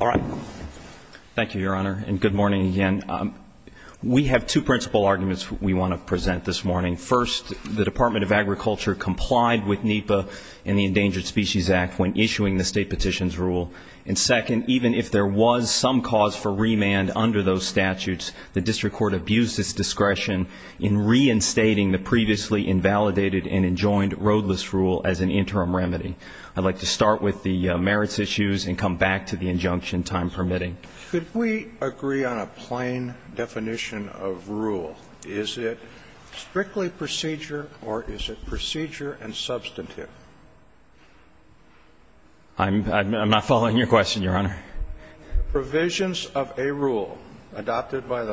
All right. Thank you, Your Honor, and good morning again. We have two principal arguments we want to present this morning. First, the Department of Agriculture complied with NEPA and the Endangered Species Act when issuing the state petitions rule. And second, even if there was some cause for remand under those statutes, the district court abused its discretion in reinstating the previously invalidated and enjoined roadless rule as an interim remedy. I'd like to start with the merits issues and come back to the injunction time permitting. Could we agree on a plain definition of rule? Is it strictly procedure or is it procedure and substantive? I'm not following your question, Your Honor. Provisions of a rule adopted by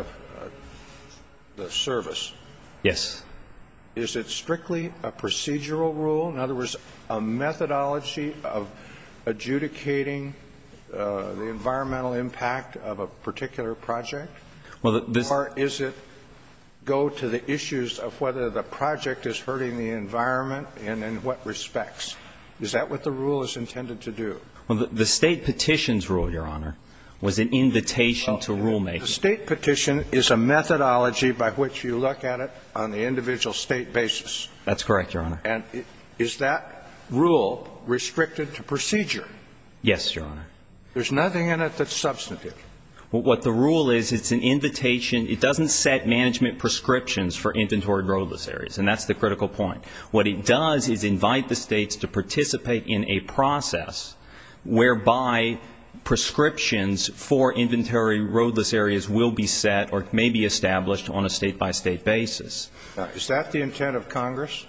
the service. Yes. Is it strictly a procedural rule? In other words, a methodology of adjudicating the environmental impact of a particular project? Or does it go to the issues of whether the project is hurting the environment and in what respects? Is that what the rule is intended to do? Well, the state petitions rule, Your Honor, was an invitation to rulemaking. The state petition is a methodology by which you look at it on the individual state basis. That's correct, Your Honor. And is that rule restricted to procedure? Yes, Your Honor. There's nothing in it that's substantive. What the rule is, it's an invitation. It doesn't set management prescriptions for inventory roadless areas, and that's the critical point. What it does is invite the States to participate in a process whereby prescriptions for inventory roadless areas will be set or may be established on a State-by-State basis. Is that the intent of Congress?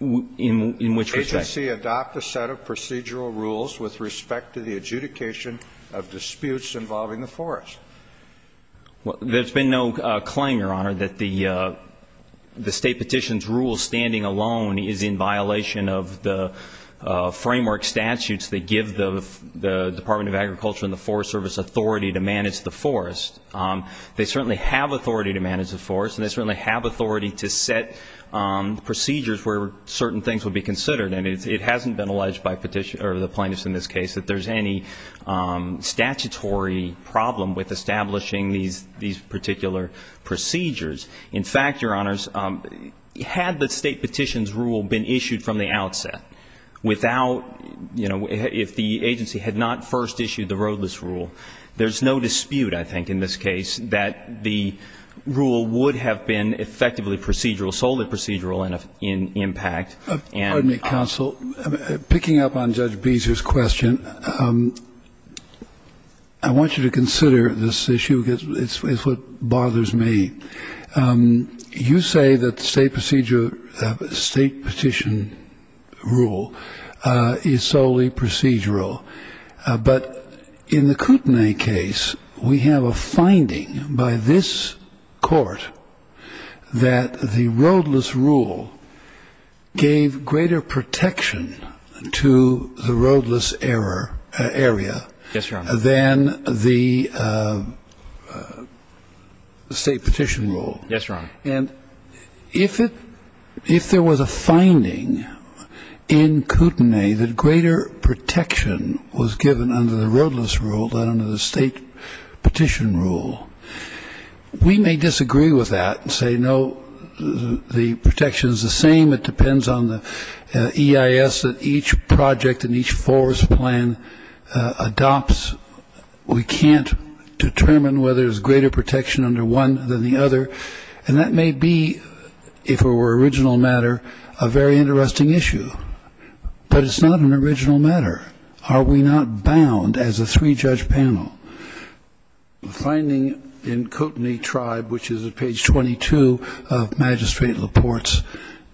In which respect? Agency adopt a set of procedural rules with respect to the adjudication of disputes involving the forest. Well, there's been no claim, Your Honor, that the state petition's rule standing alone is in violation of the framework statutes that give the Department of Agriculture and the Forest Service authority to manage the forest. They certainly have authority to manage the forest, and they certainly have authority to set procedures where certain things would be considered. And it hasn't been alleged by the plaintiffs in this case that there's any statutory problem with establishing these particular procedures. In fact, Your Honors, had the state petition's rule been issued from the outset without, you know, if the agency had not first issued the roadless rule, there's no dispute, I think, in this case that the rule would have been effectively procedural, solely procedural in impact. And the counsel. Picking up on Judge Beezer's question, I want you to consider this issue because it's what bothers me. You say that the state procedure of a state petition rule is solely procedural. But in the Kootenai case, we have a finding by this Court that the roadless rule gave greater protection to the roadless area. Yes, Your Honor. Than the state petition rule. Yes, Your Honor. And if there was a finding in Kootenai that greater protection was given under the roadless rule than under the state petition rule, we may disagree with that and say, no, the protection is the same. It depends on the EIS that each project and each force plan adopts. We can't determine whether there's greater protection under one than the other. And that may be, if it were original matter, a very interesting issue. But it's not an original matter. Are we not bound as a three-judge panel? The finding in Kootenai Tribe, which is at page 22 of Magistrate LaPorte's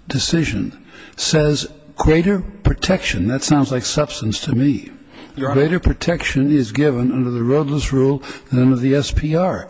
decision, says greater protection. That sounds like substance to me. Your Honor. Greater protection is given under the roadless rule than under the SPR.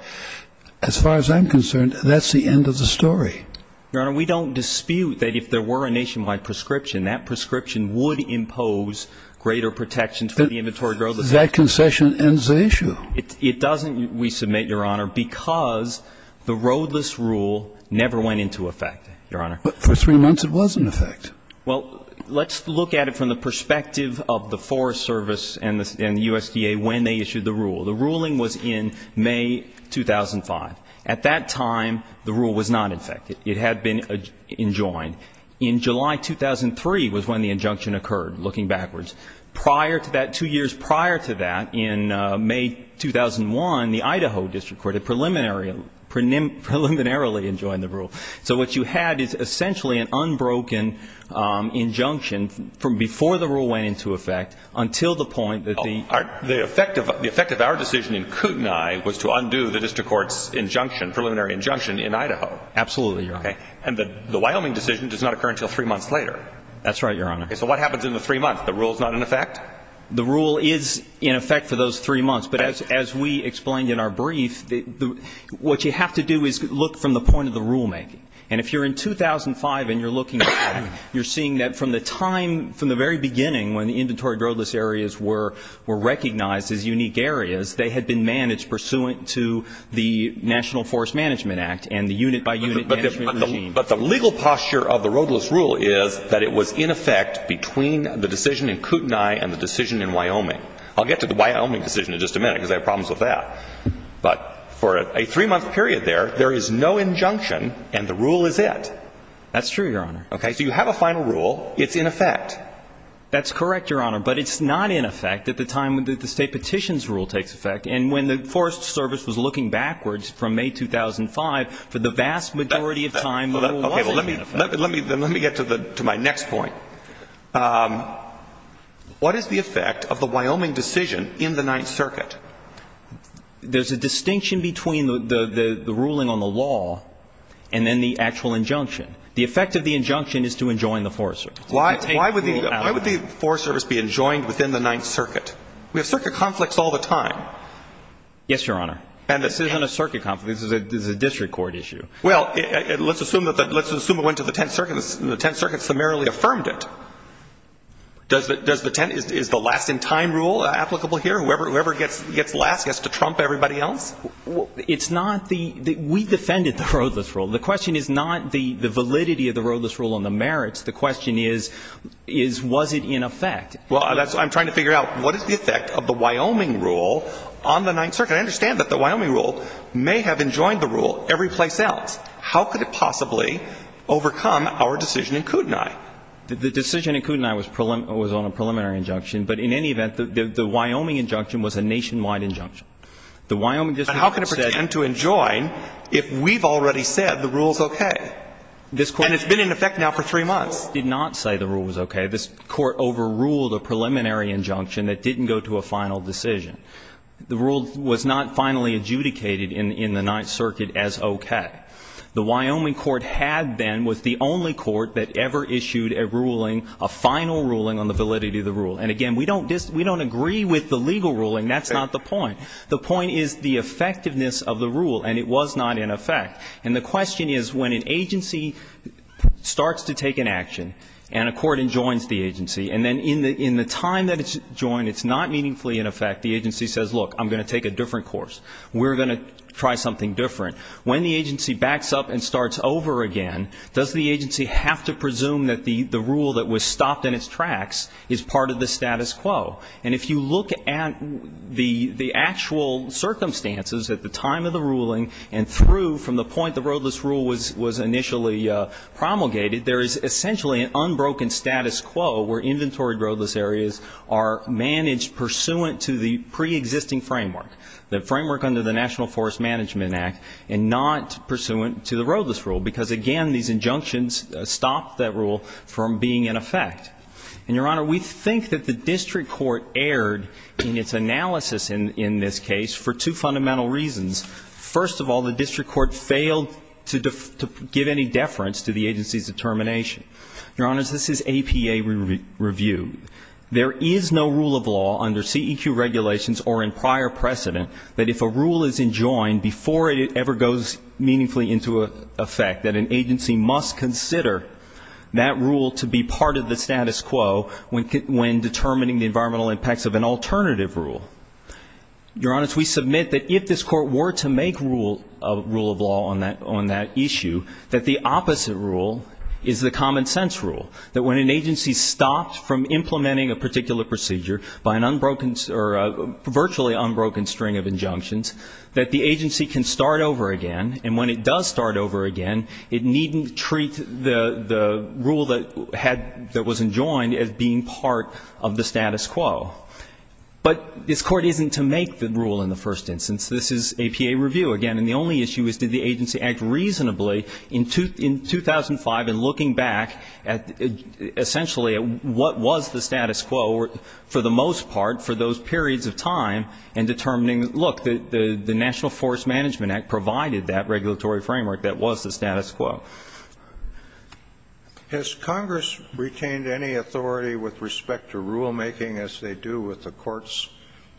As far as I'm concerned, that's the end of the story. Your Honor, we don't dispute that if there were a nationwide prescription, that prescription would impose greater protections for the inventory roadless area. That concession ends the issue. It doesn't, we submit, Your Honor, because the roadless rule never went into effect, Your Honor. But for three months it was in effect. Well, let's look at it from the perspective of the Forest Service and the USDA when they issued the rule. The ruling was in May 2005. At that time, the rule was not in effect. It had been enjoined. In July 2003 was when the injunction occurred, looking backwards. Prior to that, two years prior to that, in May 2001, the Idaho District Court preliminarily enjoined the rule. So what you had is essentially an unbroken injunction from before the rule went into effect until the point that the ---- The effect of our decision in Kootenai was to undo the district court's injunction, preliminary injunction in Idaho. Absolutely, Your Honor. And the Wyoming decision does not occur until three months later. That's right, Your Honor. Okay. So what happens in the three months? The rule is not in effect? The rule is in effect for those three months. But as we explained in our brief, what you have to do is look from the point of the rulemaking. And if you're in 2005 and you're looking back, you're seeing that from the time, from the very beginning when the inventory roadless areas were recognized as unique areas, they had been managed pursuant to the National Forest Management Act and the unit-by-unit management regime. But the legal posture of the roadless rule is that it was in effect between the decision in Kootenai and the decision in Wyoming. I'll get to the Wyoming decision in just a minute because I have problems with that. But for a three-month period there, there is no injunction and the rule is it. That's true, Your Honor. Okay. So you have a final rule. It's in effect. That's correct, Your Honor. But it's not in effect at the time that the State Petitions Rule takes effect. And when the Forest Service was looking backwards from May 2005, for the vast majority of time, the rule wasn't in effect. Okay. Well, let me get to my next point. What is the effect of the Wyoming decision in the Ninth Circuit? There's a distinction between the ruling on the law and then the actual injunction. The effect of the injunction is to enjoin the Forest Service. Why would the Forest Service be enjoined within the Ninth Circuit? We have circuit conflicts all the time. Yes, Your Honor. This isn't a circuit conflict. This is a district court issue. Well, let's assume it went to the Tenth Circuit and the Tenth Circuit summarily affirmed it. Is the last-in-time rule applicable here? Whoever gets last gets to trump everybody else? It's not the ñ we defended the roadless rule. The question is not the validity of the roadless rule and the merits. The question is, was it in effect? Well, that's what I'm trying to figure out. What is the effect of the Wyoming rule on the Ninth Circuit? I understand that the Wyoming rule may have enjoined the rule every place else. How could it possibly overcome our decision in Kootenai? The decision in Kootenai was on a preliminary injunction. But in any event, the Wyoming injunction was a nationwide injunction. The Wyoming district court said ñ But how can it pretend to enjoin if we've already said the rule's okay? And it's been in effect now for three months. It did not say the rule was okay. This court overruled a preliminary injunction that didn't go to a final decision. The rule was not finally adjudicated in the Ninth Circuit as okay. The Wyoming court had been, was the only court that ever issued a ruling, a final ruling on the validity of the rule. And, again, we don't disagree with the legal ruling. That's not the point. The point is the effectiveness of the rule, and it was not in effect. And the question is, when an agency starts to take an action and a court enjoins the agency, and then in the time that it's enjoined, it's not meaningfully in effect, the agency says, look, I'm going to take a different course. We're going to try something different. When the agency backs up and starts over again, does the agency have to presume that the rule that was stopped in its tracks is part of the status quo? And if you look at the actual circumstances at the time of the ruling and through from the point the roadless rule was initially promulgated, there is essentially an unbroken status quo where inventory roadless areas are managed pursuant to the preexisting framework, the framework under the National Forest Management Act, and not pursuant to the roadless rule, because, again, these injunctions stopped that rule from being in effect. And, Your Honor, we think that the district court erred in its analysis in this case for two fundamental reasons. First of all, the district court failed to give any deference to the agency's determination. Your Honor, this is APA review. There is no rule of law under CEQ regulations or in prior precedent that if a rule is enjoined before it ever goes meaningfully into effect, that an agency must consider that rule to be part of the status quo when determining the environmental impacts of an alternative rule. Your Honor, we submit that if this Court were to make a rule of law on that issue, that the opposite rule is the common sense rule, that when an agency stops from implementing a particular procedure by an unbroken or virtually unbroken string of injunctions, that the agency can start over again, and when it does start over again, it needn't treat the rule that was enjoined as being part of the status quo. But this Court isn't to make the rule in the first instance. This is APA review. Again, and the only issue is did the agency act reasonably in 2005 in looking back at essentially what was the status quo for the most part for those periods of time in determining, look, the National Forest Management Act provided that regulatory framework that was the status quo. So has Congress retained any authority with respect to rulemaking as they do with the courts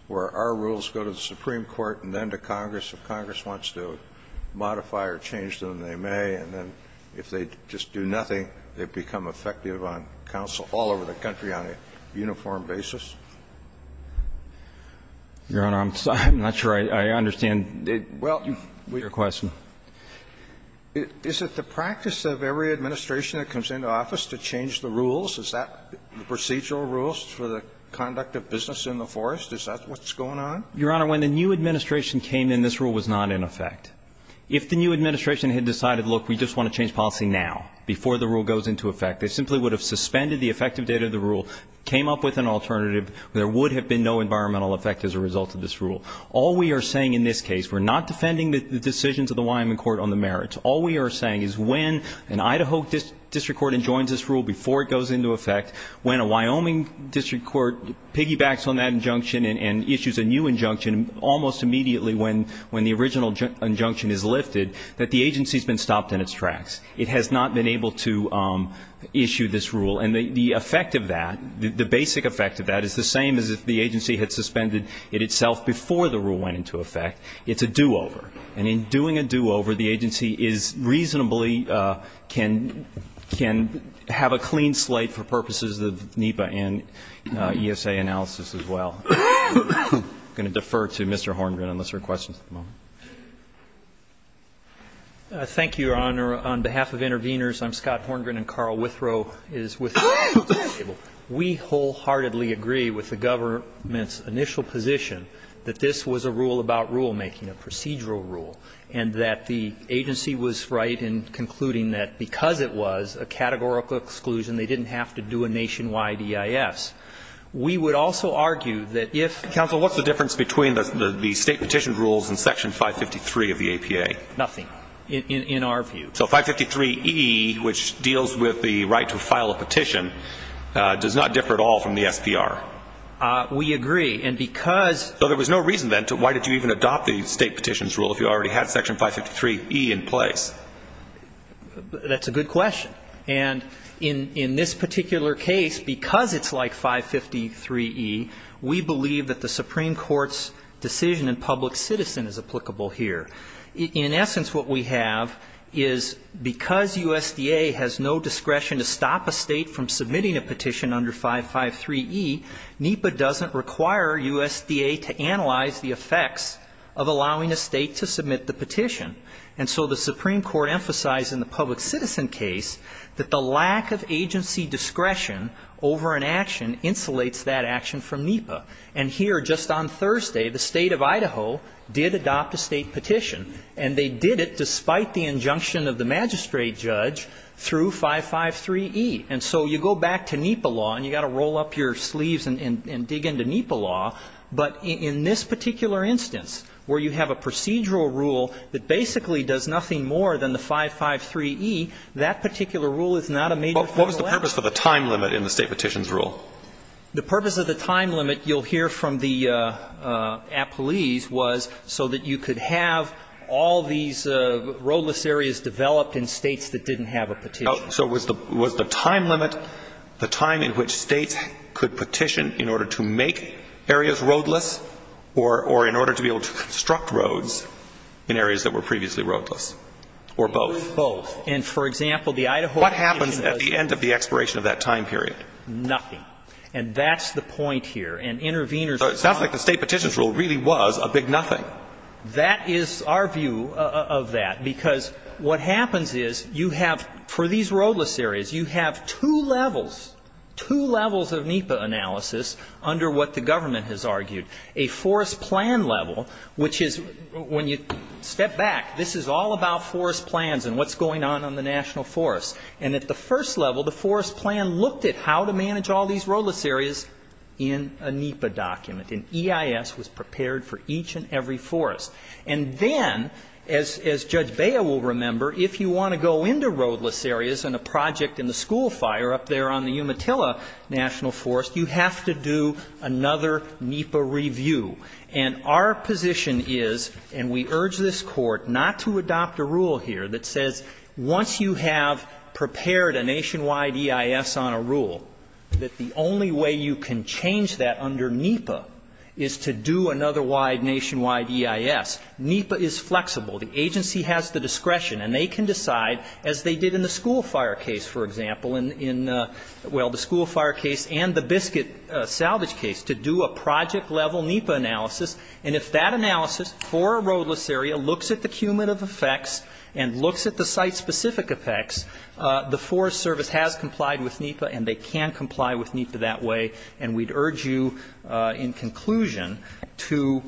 where our rules go to the Supreme Court and then to Congress? If Congress wants to modify or change them, they may, and then if they just do nothing, they become effective on counsel all over the country on a uniform basis? Your Honor, I'm not sure I understand your question. Is it the practice of every administration that comes into office to change the rules? Is that the procedural rules for the conduct of business in the forest? Is that what's going on? Your Honor, when the new administration came in, this rule was not in effect. If the new administration had decided, look, we just want to change policy now before the rule goes into effect, they simply would have suspended the effective date of the rule, came up with an alternative, there would have been no environmental effect as a result of this rule. All we are saying in this case, we're not defending the decisions of the Wyoming Court on the merits. All we are saying is when an Idaho district court enjoins this rule before it goes into effect, when a Wyoming district court piggybacks on that injunction and issues a new injunction almost immediately when the original injunction is lifted, that the agency has been stopped in its tracks. It has not been able to issue this rule. And the effect of that, the basic effect of that is the same as if the agency had before the rule went into effect, it's a do-over. And in doing a do-over, the agency is reasonably can have a clean slate for purposes of NEPA and ESA analysis as well. I'm going to defer to Mr. Horngren unless there are questions at the moment. Horngren. Thank you, Your Honor. On behalf of interveners, I'm Scott Horngren, and Carl Withrow is with you. We wholeheartedly agree with the government's initial position that this was a rule about rulemaking, a procedural rule, and that the agency was right in concluding that because it was a categorical exclusion, they didn't have to do a nationwide EIS. We would also argue that if the state petition rules in section 553 of the APA. Nothing, in our view. So 553E, which deals with the right to file a petition, does not differ at all from the SPR. We agree. And because. So there was no reason, then, to why did you even adopt the state petitions rule if you already had section 553E in place? That's a good question. And in this particular case, because it's like 553E, we believe that the Supreme Court's decision in public citizen is applicable here. In essence, what we have is because USDA has no discretion to stop a state from submitting a petition under 553E, NEPA doesn't require USDA to analyze the effects of allowing a state to submit the petition. And so the Supreme Court emphasized in the public citizen case that the lack of agency discretion over an action insulates that action from NEPA. And here, just on Thursday, the State of Idaho did adopt a state petition, and they did it despite the injunction of the magistrate judge through 553E. And so you go back to NEPA law, and you've got to roll up your sleeves and dig into NEPA law, but in this particular instance, where you have a procedural rule that basically does nothing more than the 553E, that particular rule is not a major problem. What was the purpose of the time limit in the state petitions rule? The purpose of the time limit, you'll hear from the appellees, was so that you could have all these roadless areas developed in States that didn't have a petition. So was the time limit the time in which States could petition in order to make areas roadless or in order to be able to construct roads in areas that were previously roadless, or both? Both. And for example, the Idaho petition was a big nothing. What happens at the end of the expiration of that time period? Nothing. And that's the point here. And interveners are not. So it sounds like the state petitions rule really was a big nothing. That is our view of that, because what happens is you have, for these roadless areas, you have two levels, two levels of NEPA analysis under what the government has argued. A forest plan level, which is, when you step back, this is all about forest plans and what's going on on the national forest. And at the first level, the forest plan looked at how to manage all these roadless areas in a NEPA document. And EIS was prepared for each and every forest. And then, as Judge Bea will remember, if you want to go into roadless areas in a project in the school fire up there on the Umatilla National Forest, you have to do another NEPA review. And our position is, and we urge this Court not to adopt a rule here that says once you have prepared a nationwide EIS on a rule, that the only way you can change that under NEPA is to do another wide nationwide EIS. NEPA is flexible. The agency has the discretion. And they can decide, as they did in the school fire case, for example, in the school fire analysis. And if that analysis for a roadless area looks at the cumulative effects and looks at the site-specific effects, the Forest Service has complied with NEPA, and they can comply with NEPA that way. And we'd urge you, in conclusion, to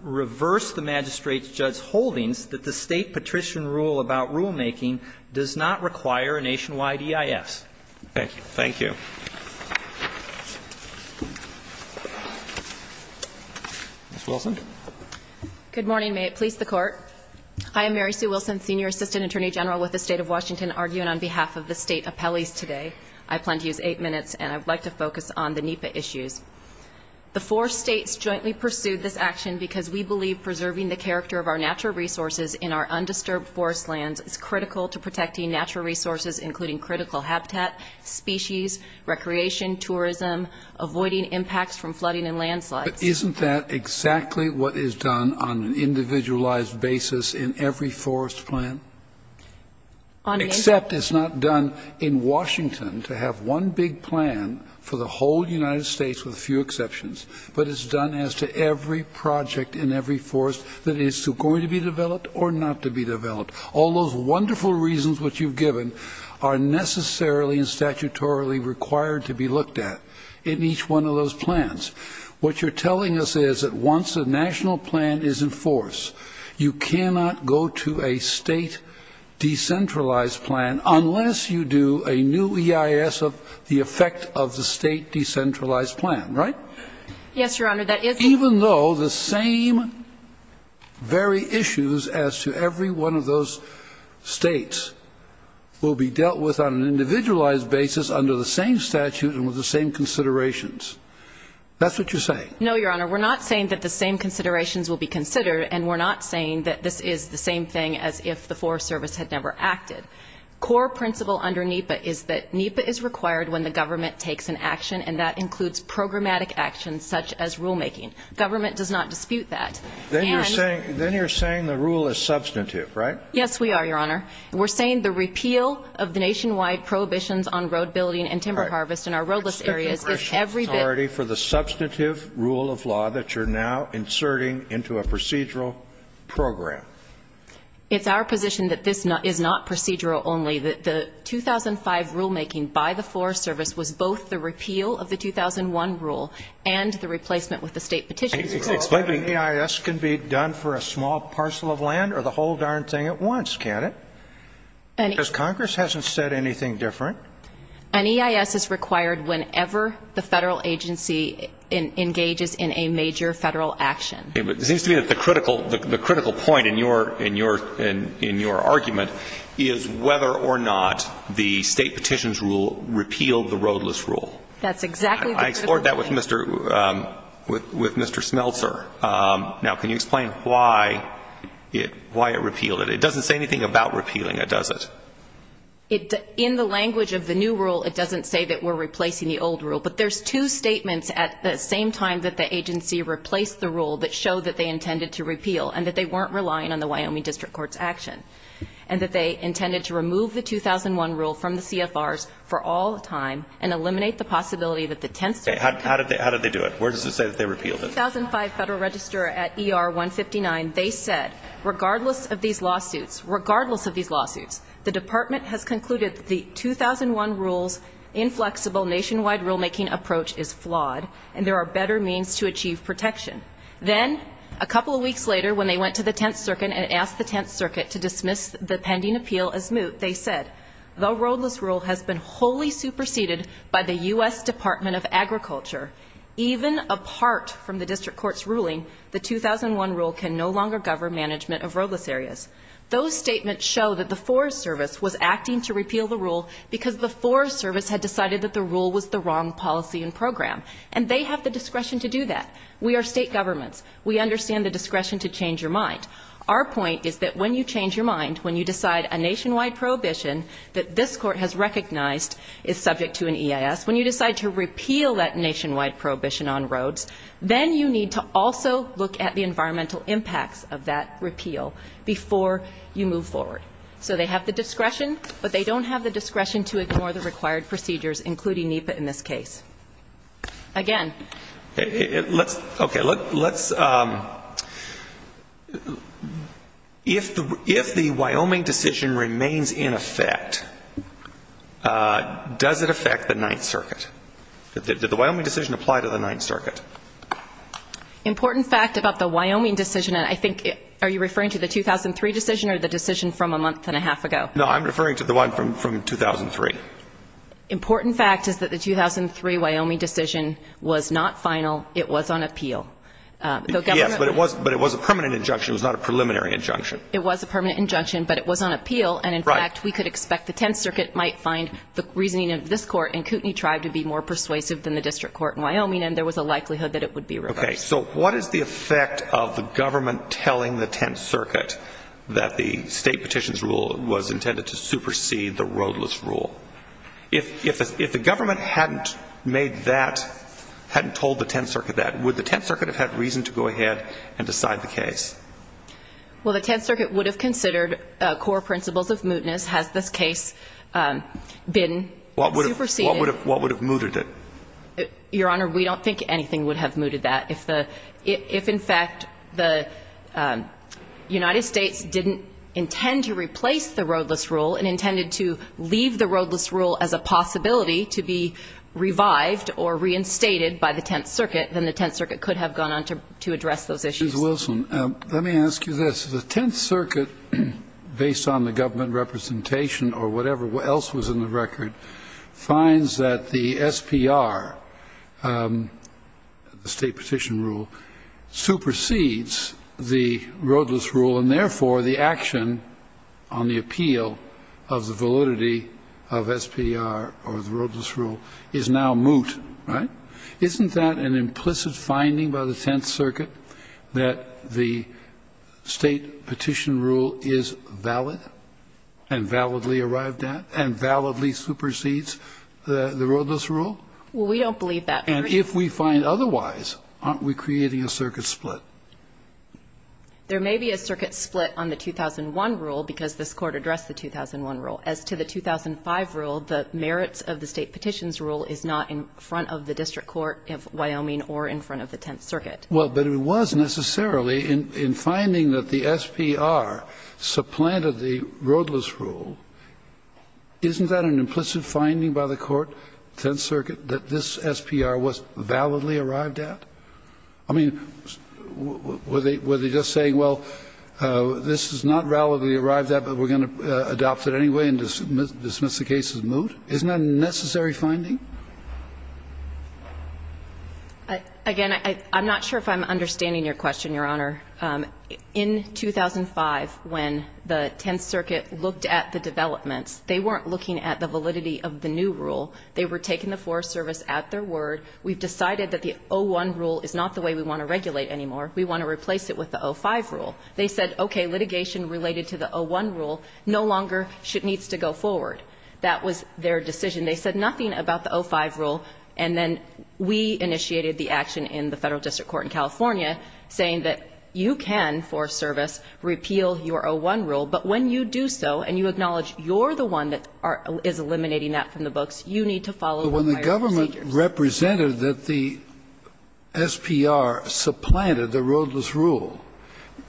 reverse the magistrate's judge holdings that the State patrician rule about rulemaking does not require a nationwide EIS. Thank you. Thank you. Ms. Wilson. Good morning. May it please the Court. Hi. I'm Mary Sue Wilson, Senior Assistant Attorney General with the State of Washington, arguing on behalf of the State Appellees today. I plan to use eight minutes, and I'd like to focus on the NEPA issues. The four States jointly pursued this action because we believe preserving the character of our natural resources in our undisturbed forest lands is critical to protecting natural resources, including critical habitat, species, recreation, tourism, avoiding impacts from flooding and landslides. But isn't that exactly what is done on an individualized basis in every forest plant? Except it's not done in Washington to have one big plan for the whole United States with a few exceptions, but it's done as to every project in every forest that is going to be developed or not to be developed. All those wonderful reasons which you've given are necessarily and statutorily required to be looked at in each one of those plans. What you're telling us is that once a national plan is in force, you cannot go to a State decentralized plan unless you do a new EIS of the effect of the State decentralized plan, right? Yes, Your Honor. Even though the same very issues as to every one of those States will be dealt with on an individualized basis under the same statute and with the same considerations. That's what you're saying. No, Your Honor. We're not saying that the same considerations will be considered, and we're not saying that this is the same thing as if the Forest Service had never acted. Core principle under NEPA is that NEPA is required when the government takes an action, and that includes programmatic actions such as rulemaking. Government does not dispute that. Then you're saying the rule is substantive, right? Yes, we are, Your Honor. We're saying the repeal of the nationwide prohibitions on road building and timber harvest in our roadless areas is every bit. For the substantive rule of law that you're now inserting into a procedural program. It's our position that this is not procedural only. The 2005 rulemaking by the Forest Service was both the repeal of the 2001 rule and the replacement with a State petition. Explain to me. An EIS can be done for a small parcel of land or the whole darn thing at once, can't it? Because Congress hasn't said anything different. An EIS is required whenever the Federal agency engages in a major Federal action. It seems to me that the critical point in your argument is whether or not the State petitions rule repealed the roadless rule. That's exactly the critical point. I explored that with Mr. Smeltzer. Now, can you explain why it repealed it? It doesn't say anything about repealing it, does it? In the language of the new rule, it doesn't say that we're replacing the old rule. But there's two statements at the same time that the agency replaced the rule that showed that they intended to repeal and that they weren't relying on the Wyoming District Court's action and that they intended to remove the 2001 rule from the CFRs for all the time and eliminate the possibility that the 10th Circuit could How did they do it? Where does it say that they repealed it? In the 2005 Federal Register at ER 159, they said, regardless of these lawsuits, regardless of these lawsuits, the Department has concluded the 2001 rule's inflexible nationwide rulemaking approach is flawed and there are better means to achieve protection. Then, a couple of weeks later, when they went to the 10th Circuit and asked the 10th Circuit to dismiss the pending appeal as moot, they said, the roadless rule has been wholly superseded by the U.S. Department of Agriculture. Even apart from the District Court's ruling, the 2001 rule can no longer govern management of roadless areas. Those statements show that the Forest Service was acting to repeal the rule because the Forest Service had decided that the rule was the wrong policy and program. And they have the discretion to do that. We are state governments. We understand the discretion to change your mind. Our point is that when you change your mind, when you decide a nationwide prohibition that this Court has recognized is subject to an EIS, when you decide to repeal that nationwide prohibition on roads, then you need to also look at the environmental impacts of that repeal before you move forward. So they have the discretion, but they don't have the discretion to ignore the required procedures, including NEPA in this case. Again. Okay. Let's, if the Wyoming decision remains in effect, does it affect the 9th Circuit? Did the Wyoming decision apply to the 9th Circuit? Important fact about the Wyoming decision, and I think, are you referring to the one from a month and a half ago? No, I'm referring to the one from 2003. Important fact is that the 2003 Wyoming decision was not final. It was on appeal. Yes, but it was a permanent injunction. It was not a preliminary injunction. It was a permanent injunction, but it was on appeal. And, in fact, we could expect the 10th Circuit might find the reasoning of this Court and Kootenai Tribe to be more persuasive than the district court in Wyoming, and there was a likelihood that it would be reversed. Okay. So what is the effect of the government telling the 10th Circuit that the state petitions rule was intended to supersede the roadless rule? If the government hadn't made that, hadn't told the 10th Circuit that, would the 10th Circuit have had reason to go ahead and decide the case? Well, the 10th Circuit would have considered core principles of mootness. Has this case been superseded? What would have mooted it? Your Honor, we don't think anything would have mooted that. If, in fact, the United States didn't intend to replace the roadless rule and intended to leave the roadless rule as a possibility to be revived or reinstated by the 10th Circuit, then the 10th Circuit could have gone on to address those issues. Ms. Wilson, let me ask you this. The 10th Circuit, based on the government representation or whatever else was in the SPR, the state petition rule, supersedes the roadless rule, and therefore the action on the appeal of the validity of SPR or the roadless rule is now moot, right? Isn't that an implicit finding by the 10th Circuit, that the state petition rule is And if we find otherwise, aren't we creating a circuit split? There may be a circuit split on the 2001 rule because this Court addressed the 2001 rule. As to the 2005 rule, the merits of the state petitions rule is not in front of the district court of Wyoming or in front of the 10th Circuit. Well, but it was necessarily in finding that the SPR supplanted the roadless rule. Isn't that an implicit finding by the Court, 10th Circuit, that this SPR was validly arrived at? I mean, were they just saying, well, this is not validly arrived at, but we're going to adopt it anyway and dismiss the case as moot? Isn't that a necessary finding? Again, I'm not sure if I'm understanding your question, Your Honor. In 2005, when the 10th Circuit looked at the developments, they weren't looking at the validity of the new rule. They were taking the Forest Service at their word. We've decided that the 01 rule is not the way we want to regulate anymore. We want to replace it with the 05 rule. They said, okay, litigation related to the 01 rule no longer needs to go forward. That was their decision. They said nothing about the 05 rule, and then we initiated the action in the Federal They said, okay, you can, Forest Service, repeal your 01 rule, but when you do so and you acknowledge you're the one that is eliminating that from the books, you need to follow the higher procedures. But when the government represented that the SPR supplanted the roadless rule,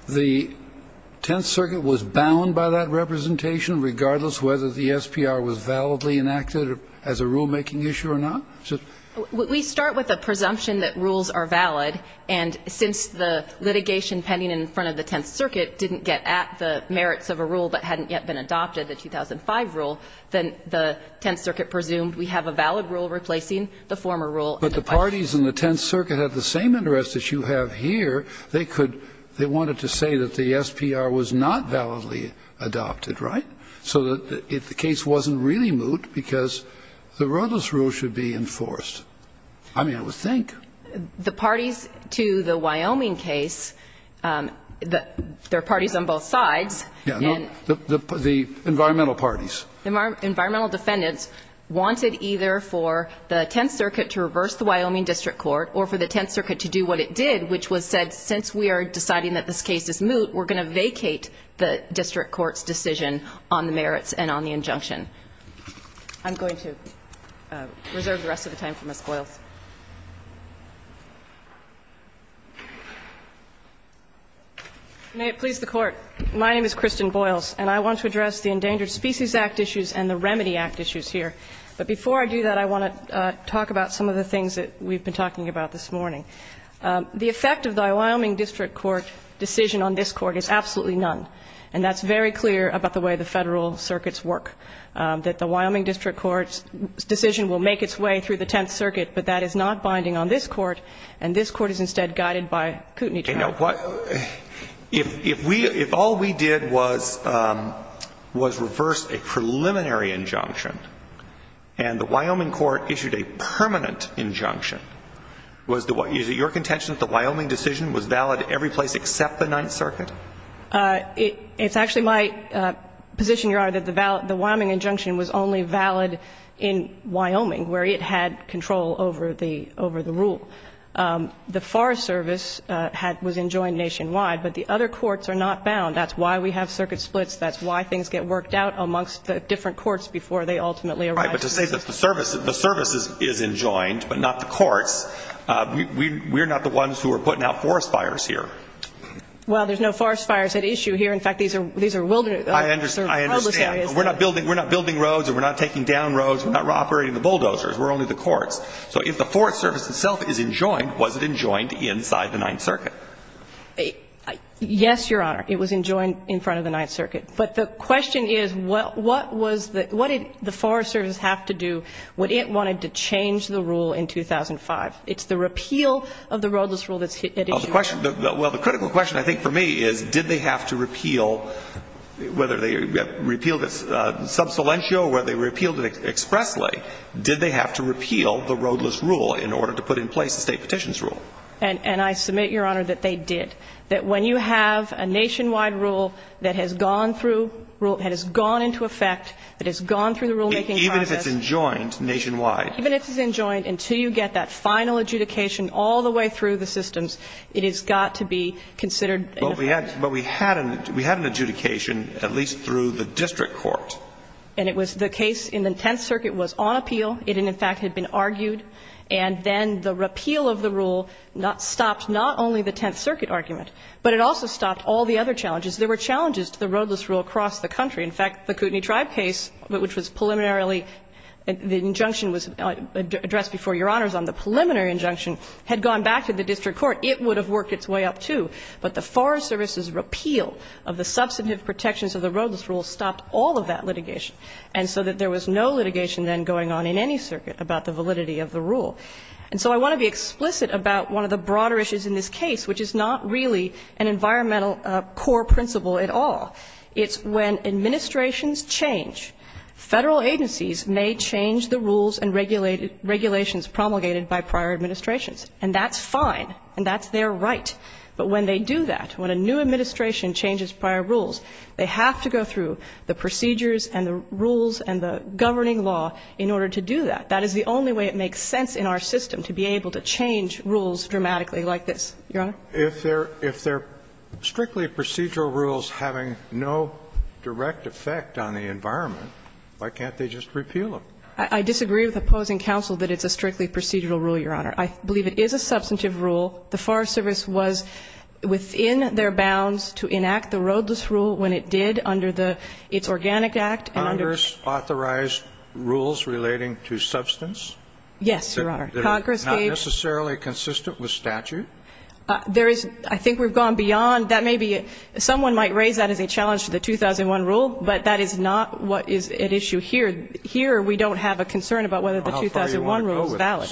the 10th Circuit was bound by that representation, regardless whether the SPR was validly enacted as a rulemaking issue or not? We start with a presumption that rules are valid, and since the litigation pending in front of the 10th Circuit didn't get at the merits of a rule that hadn't yet been adopted, the 2005 rule, then the 10th Circuit presumed we have a valid rule replacing the former rule. But the parties in the 10th Circuit had the same interest as you have here. They could they wanted to say that the SPR was not validly adopted, right? So if the case wasn't really moot because the roadless rule should be enforced, I mean, I would think. The parties to the Wyoming case, there are parties on both sides. The environmental parties. Environmental defendants wanted either for the 10th Circuit to reverse the Wyoming District Court or for the 10th Circuit to do what it did, which was said since we are deciding that this case is moot, we're going to vacate the District Court's decision on the merits and on the injunction. I'm going to reserve the rest of the time for Ms. Boyles. May it please the Court. My name is Kristen Boyles, and I want to address the Endangered Species Act issues and the Remedy Act issues here. But before I do that, I want to talk about some of the things that we've been talking about this morning. The effect of the Wyoming District Court decision on this Court is absolutely none. And that's very clear about the way the Federal circuits work, that the Wyoming District Court's decision will make its way through the 10th Circuit, but that is not binding on this Court, and this Court is instead guided by Kootenai trial. If all we did was reverse a preliminary injunction, and the Wyoming Court issued a contention that the Wyoming decision was valid every place except the 9th Circuit? It's actually my position, Your Honor, that the Wyoming injunction was only valid in Wyoming, where it had control over the rule. The Forest Service was enjoined nationwide, but the other courts are not bound. That's why we have circuit splits. That's why things get worked out amongst the different courts before they ultimately arrive. The service is enjoined, but not the courts. We're not the ones who are putting out forest fires here. Well, there's no forest fires at issue here. In fact, these are wilderness areas. I understand. We're not building roads, and we're not taking down roads. We're not operating the bulldozers. We're only the courts. So if the Forest Service itself is enjoined, was it enjoined inside the 9th Circuit? Yes, Your Honor. It was enjoined in front of the 9th Circuit. But the question is, what did the Forest Service have to do when it wanted to change the rule in 2005? It's the repeal of the roadless rule that's at issue. Well, the critical question, I think, for me is, did they have to repeal, whether they repealed it sub silentio or whether they repealed it expressly, did they have to repeal the roadless rule in order to put in place the state petitions rule? And I submit, Your Honor, that they did. And I submit that when you have a nationwide rule that has gone through rule that has gone into effect, that has gone through the rulemaking process. Even if it's enjoined nationwide. Even if it's enjoined, until you get that final adjudication all the way through the systems, it has got to be considered. But we had an adjudication at least through the district court. And it was the case in the 10th Circuit was on appeal. It, in fact, had been argued. And then the repeal of the rule stopped not only the 10th Circuit argument, but it also stopped all the other challenges. There were challenges to the roadless rule across the country. In fact, the Kootenai Tribe case, which was preliminarily, the injunction was addressed before Your Honors on the preliminary injunction, had gone back to the district court, it would have worked its way up, too. But the Forest Service's repeal of the substantive protections of the roadless rule stopped all of that litigation. And so that there was no litigation then going on in any circuit about the validity of the rule. And so I want to be explicit about one of the broader issues in this case, which is not really an environmental core principle at all. It's when administrations change, Federal agencies may change the rules and regulations promulgated by prior administrations. And that's fine. And that's their right. But when they do that, when a new administration changes prior rules, they have to go through the procedures and the rules and the governing law in order to do that. That is the only way it makes sense in our system to be able to change rules dramatically like this. Your Honor? If they're strictly procedural rules having no direct effect on the environment, why can't they just repeal them? I disagree with opposing counsel that it's a strictly procedural rule, Your Honor. I believe it is a substantive rule. The Forest Service was within their bounds to enact the roadless rule when it did under its Organic Act. Congress authorized rules relating to substance? Yes, Your Honor. Congress gave them. They're not necessarily consistent with statute? I think we've gone beyond that. Maybe someone might raise that as a challenge to the 2001 rule, but that is not what is at issue here. Here we don't have a concern about whether the 2001 rule is valid.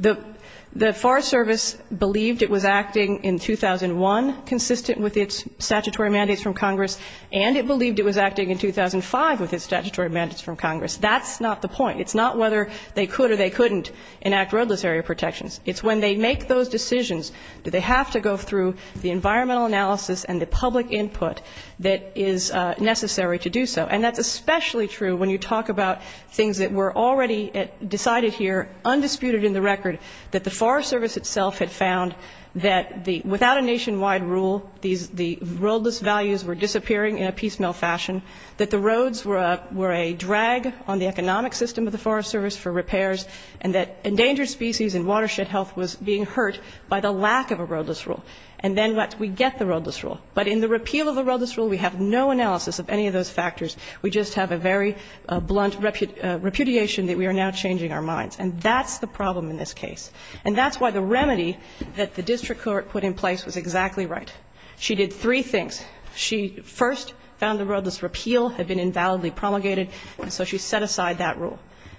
Well, how far do you want to go with this? The Forest Service believed it was acting in 2001 consistent with its statutory mandates from Congress, and it believed it was acting in 2005 with its statutory mandates from Congress. That's not the point. It's not whether they could or they couldn't enact roadless area protections. It's when they make those decisions do they have to go through the environmental analysis and the public input that is necessary to do so. And that's especially true when you talk about things that were already decided here, undisputed in the record, that the Forest Service itself had found that the without a nationwide rule, the roadless values were disappearing in a piecemeal fashion, that the roads were a drag on the economic system of the Forest Service for repairs, and that endangered species and watershed health was being hurt by the lack of a roadless rule. And then we get the roadless rule. But in the repeal of the roadless rule, we have no analysis of any of those factors. We just have a very blunt repudiation that we are now changing our minds. And that's the problem in this case. And that's why the remedy that the district court put in place was exactly right. She did three things. She first found the roadless repeal had been invalidly promulgated, and so she set aside that rule.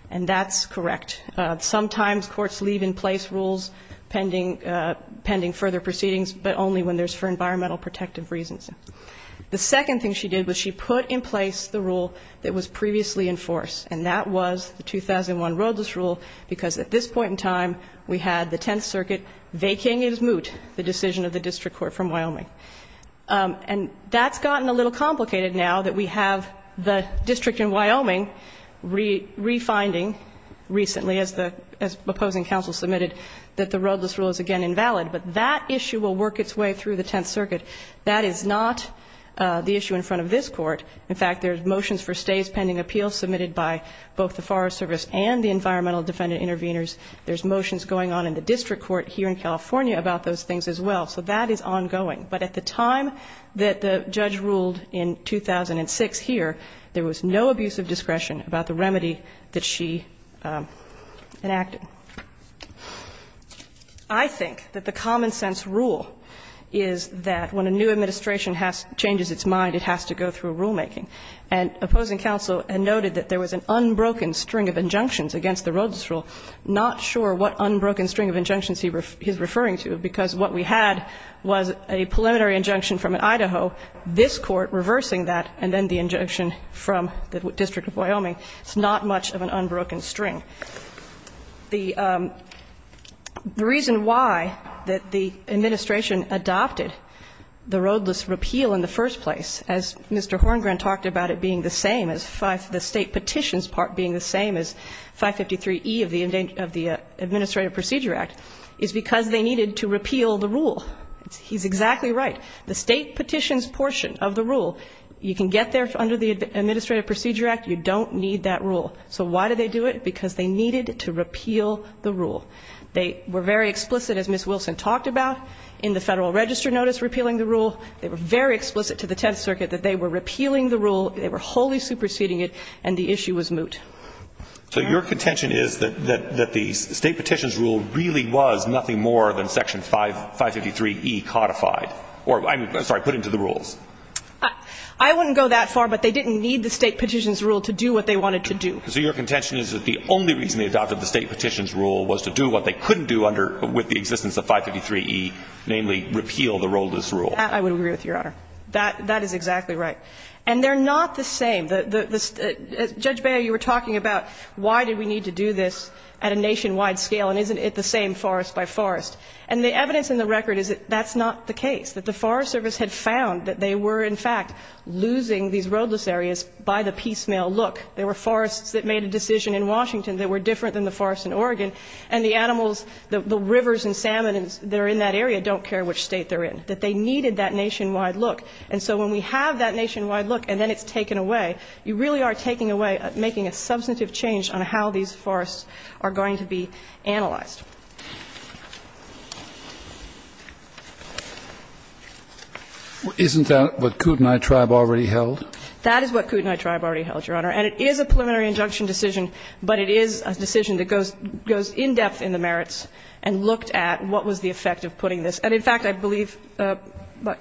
And that's correct. Sometimes courts leave in place rules pending further proceedings, but only when there's for environmental protective reasons. The second thing she did was she put in place the rule that was previously in force, and that was the 2001 roadless rule, because at this point in time, we had the Tenth Circuit vacating as moot the decision of the district court from Wyoming. And that's gotten a little complicated now that we have the district in Wyoming refinding recently, as the opposing counsel submitted, that the roadless rule is, again, invalid. But that issue will work its way through the Tenth Circuit. That is not the issue in front of this court. In fact, there's motions for stays pending appeals submitted by both the Forest Service and the Environmental Defendant Intervenors. There's motions going on in the district court here in California about those things as well. So that is ongoing. But at the time that the judge ruled in 2006 here, there was no abuse of discretion about the remedy that she enacted. I think that the common-sense rule is that when a new administration changes its mind, it has to go through rulemaking. And opposing counsel noted that there was an unbroken string of injunctions against the roadless rule. Not sure what unbroken string of injunctions he's referring to, because what we had was a preliminary injunction from Idaho, this court reversing that, and then the injunction from the District of Wyoming. It's not much of an unbroken string. The reason why that the administration adopted the roadless repeal in the first place as Mr. Horngren talked about it being the same as the state petitions part being the same as 553E of the Administrative Procedure Act is because they needed to repeal the rule. He's exactly right. The state petitions portion of the rule, you can get there under the Administrative Procedure Act. You don't need that rule. So why did they do it? Because they needed to repeal the rule. They were very explicit, as Ms. Wilson talked about, in the Federal Register notice repealing the rule. They were very explicit to the Tenth Circuit that they were repealing the rule, they were wholly superseding it, and the issue was moot. So your contention is that the state petitions rule really was nothing more than Section 553E codified or, I'm sorry, put into the rules? I wouldn't go that far, but they didn't need the state petitions rule to do what they wanted to do. So your contention is that the only reason they adopted the state petitions rule was to do what they couldn't do under, with the existence of 553E, namely, repeal the roadless rule? I would agree with you, Your Honor. That is exactly right. And they're not the same. Judge Baio, you were talking about why did we need to do this at a nationwide scale, and isn't it the same forest by forest? And the evidence in the record is that that's not the case, that the Forest Service had found that they were, in fact, losing these roadless areas by the piecemeal look. There were forests that made a decision in Washington that were different than the forests in Oregon, and the animals, the rivers and salmon that are in that area don't care which state they're in, that they needed that nationwide look. And so when we have that nationwide look and then it's taken away, you really are taking away, making a substantive change on how these forests are going to be analyzed. Isn't that what Kootenai Tribe already held? That is what Kootenai Tribe already held, Your Honor. And it is a preliminary injunction decision, but it is a decision that goes in-depth in the merits and looked at what was the effect of putting this. And in fact, I believe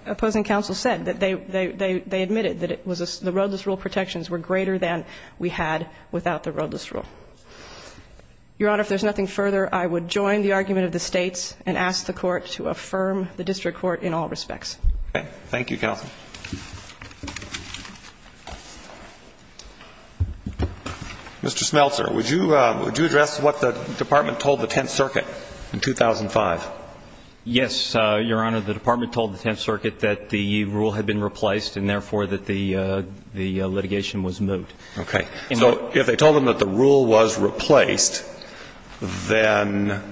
opposing counsel said that they admitted that the roadless rule protections were greater than we had without the roadless rule. Your Honor, if there's nothing further, I would join the argument of the states and ask the Court to affirm the district court in all respects. Okay. Thank you, counsel. Mr. Smeltzer, would you address what the Department told the Tenth Circuit in 2005? Yes, Your Honor. The Department told the Tenth Circuit that the rule had been replaced and therefore that the litigation was moot. Okay. So if they told them that the rule was replaced, then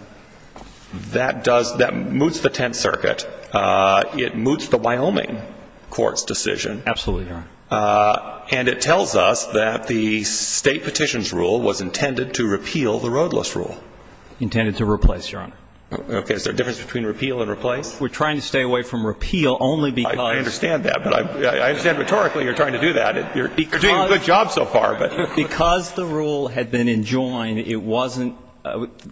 that does – that moots the Tenth Circuit. It moots the Wyoming court's decision. Absolutely, Your Honor. And it tells us that the state petition's rule was intended to repeal the roadless rule. Intended to replace, Your Honor. Okay. Is there a difference between repeal and replace? We're trying to stay away from repeal only because – I understand that. But I understand rhetorically you're trying to do that. You're doing a good job so far, but – Because the rule had been enjoined, it wasn't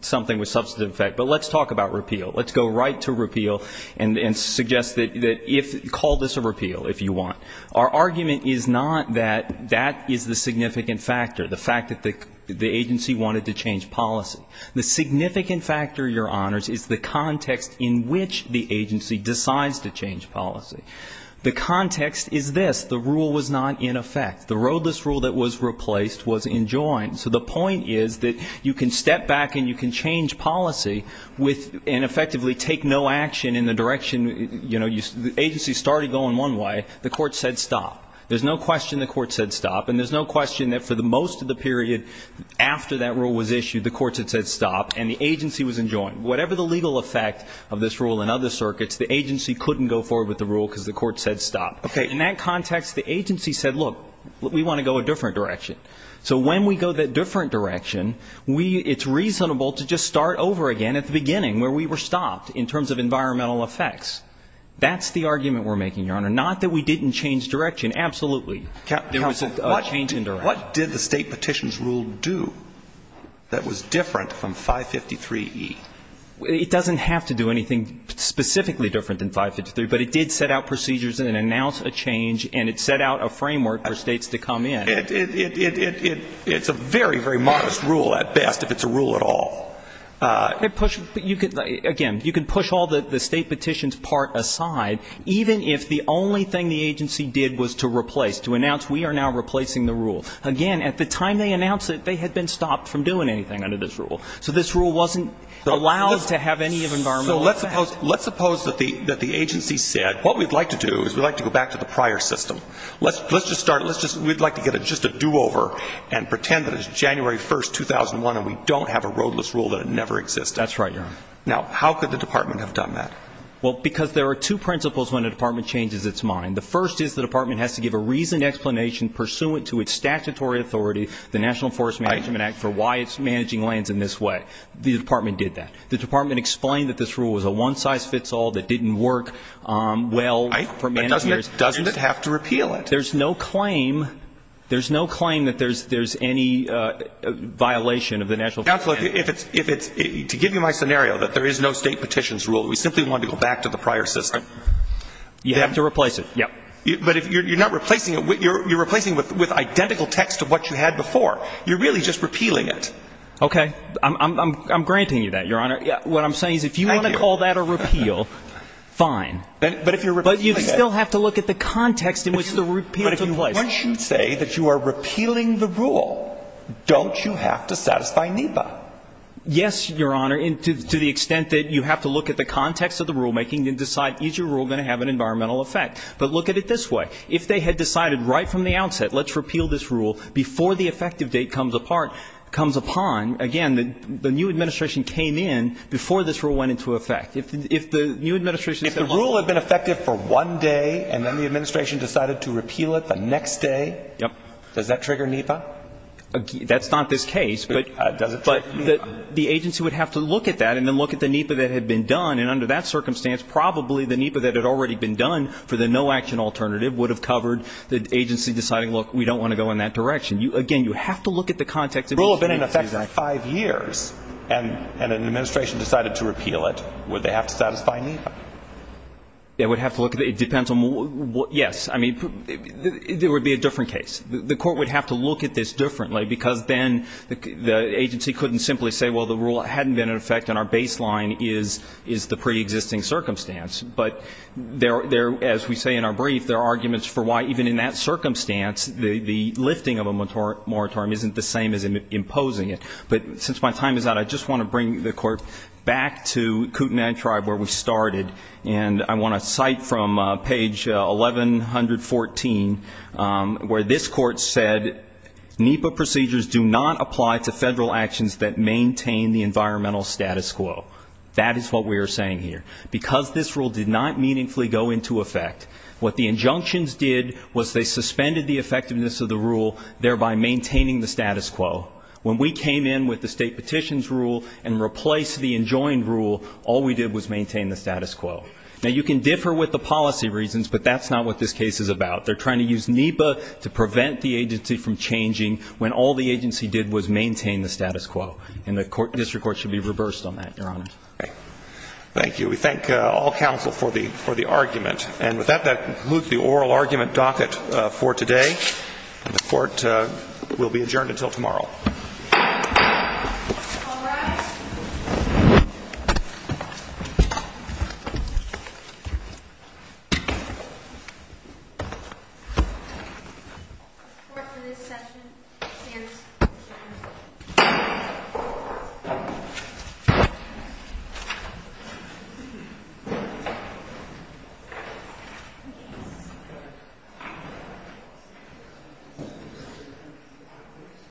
something with substantive effect. But let's talk about repeal. Let's go right to repeal and suggest that if – call this a repeal, if you want. Our argument is not that that is the significant factor, the fact that the agency wanted to change policy. The significant factor, Your Honors, is the context in which the agency decides to change policy. The context is this. The rule was not in effect. The roadless rule that was replaced was enjoined. So the point is that you can step back and you can change policy with – and effectively take no action in the direction – you know, the agency started going one way. The court said stop. There's no question the court said stop. And there's no question that for most of the period after that rule was issued, the courts had said stop and the agency was enjoined. Whatever the legal effect of this rule in other circuits, the agency couldn't go forward with the rule because the court said stop. Okay. In that context, the agency said, look, we want to go a different direction. So when we go that different direction, we – it's reasonable to just start over again at the beginning where we were stopped in terms of environmental effects. That's the argument we're making, Your Honor. Not that we didn't change direction. Absolutely. There was a change in direction. What did the State Petitions Rule do that was different from 553E? It doesn't have to do anything specifically different than 553, but it did set out procedures and announce a change and it set out a framework for States to come in. It's a very, very modest rule at best, if it's a rule at all. It pushed – again, you can push all the State Petitions part aside, even if the only thing the agency did was to replace, to announce we are now replacing the rule. Again, at the time they announced it, they had been stopped from doing anything under this rule. So this rule wasn't allowed to have any environmental effect. So let's suppose that the agency said, what we'd like to do is we'd like to go back to the prior system. Let's just start – let's just – we'd like to get just a do-over and pretend that it's January 1st, 2001 and we don't have a roadless rule that it never existed. That's right, Your Honor. Now, how could the department have done that? Well, because there are two principles when a department changes its mind. The first is the department has to give a reasoned explanation pursuant to its statutory authority, the National Forest Management Act, for why it's managing lands in this way. The department did that. The department explained that this rule was a one-size-fits-all that didn't work well for managers. Right. But doesn't it have to repeal it? There's no claim – there's no claim that there's any violation of the National Forest Management Act. Counselor, if it's – to give you my scenario, that there is no State Petitions rule, we simply want to go back to the prior system. You have to replace it. Yep. But you're not replacing it. You're replacing it with identical text of what you had before. You're really just repealing it. Okay. I'm granting you that, Your Honor. What I'm saying is if you want to call that a repeal, fine. But if you're – But you still have to look at the context in which the repeal took place. But once you say that you are repealing the rule, don't you have to satisfy NEPA? Yes, Your Honor, to the extent that you have to look at the context of the rulemaking and decide is your rule going to have an environmental effect. But look at it this way. If they had decided right from the outset, let's repeal this rule before the effective date comes apart – comes upon, again, the new administration came in before this rule went into effect. If the new administration said – If the rule had been effective for one day and then the administration decided to repeal it the next day – Yep. Does that trigger NEPA? That's not this case, but – Does it trigger NEPA? The agency would have to look at that and then look at the NEPA that had been done. And under that circumstance, probably the NEPA that had already been done for the no-action alternative would have covered the agency deciding, look, we don't want to go in that direction. Again, you have to look at the context in which the agency – If the rule had been in effect for five years and an administration decided to repeal it, would they have to satisfy NEPA? They would have to look – it depends on – yes. I mean, there would be a different case. The court would have to look at this differently because then the agency couldn't simply say, well, the rule hadn't been in effect and our baseline is the preexisting circumstance. But there – as we say in our brief, there are arguments for why even in that circumstance the lifting of a moratorium isn't the same as imposing it. But since my time is out, I just want to bring the Court back to Kootenai Tribe where we started, and I want to cite from page 1114 where this Court said, NEPA procedures do not apply to federal actions that maintain the environmental status quo. That is what we are saying here. Because this rule did not meaningfully go into effect, what the injunctions did was they suspended the effectiveness of the rule, thereby maintaining the status quo. When we came in with the state petitions rule and replaced the enjoined rule, all we did was maintain the status quo. Now, you can differ with the policy reasons, but that's not what this case is about. They're trying to use NEPA to prevent the agency from changing when all the agency did was maintain the status quo. And the District Court should be reversed on that, Your Honor. Thank you. We thank all counsel for the argument. And with that, that concludes the oral argument docket for today. And the Court will be adjourned until tomorrow. All rise.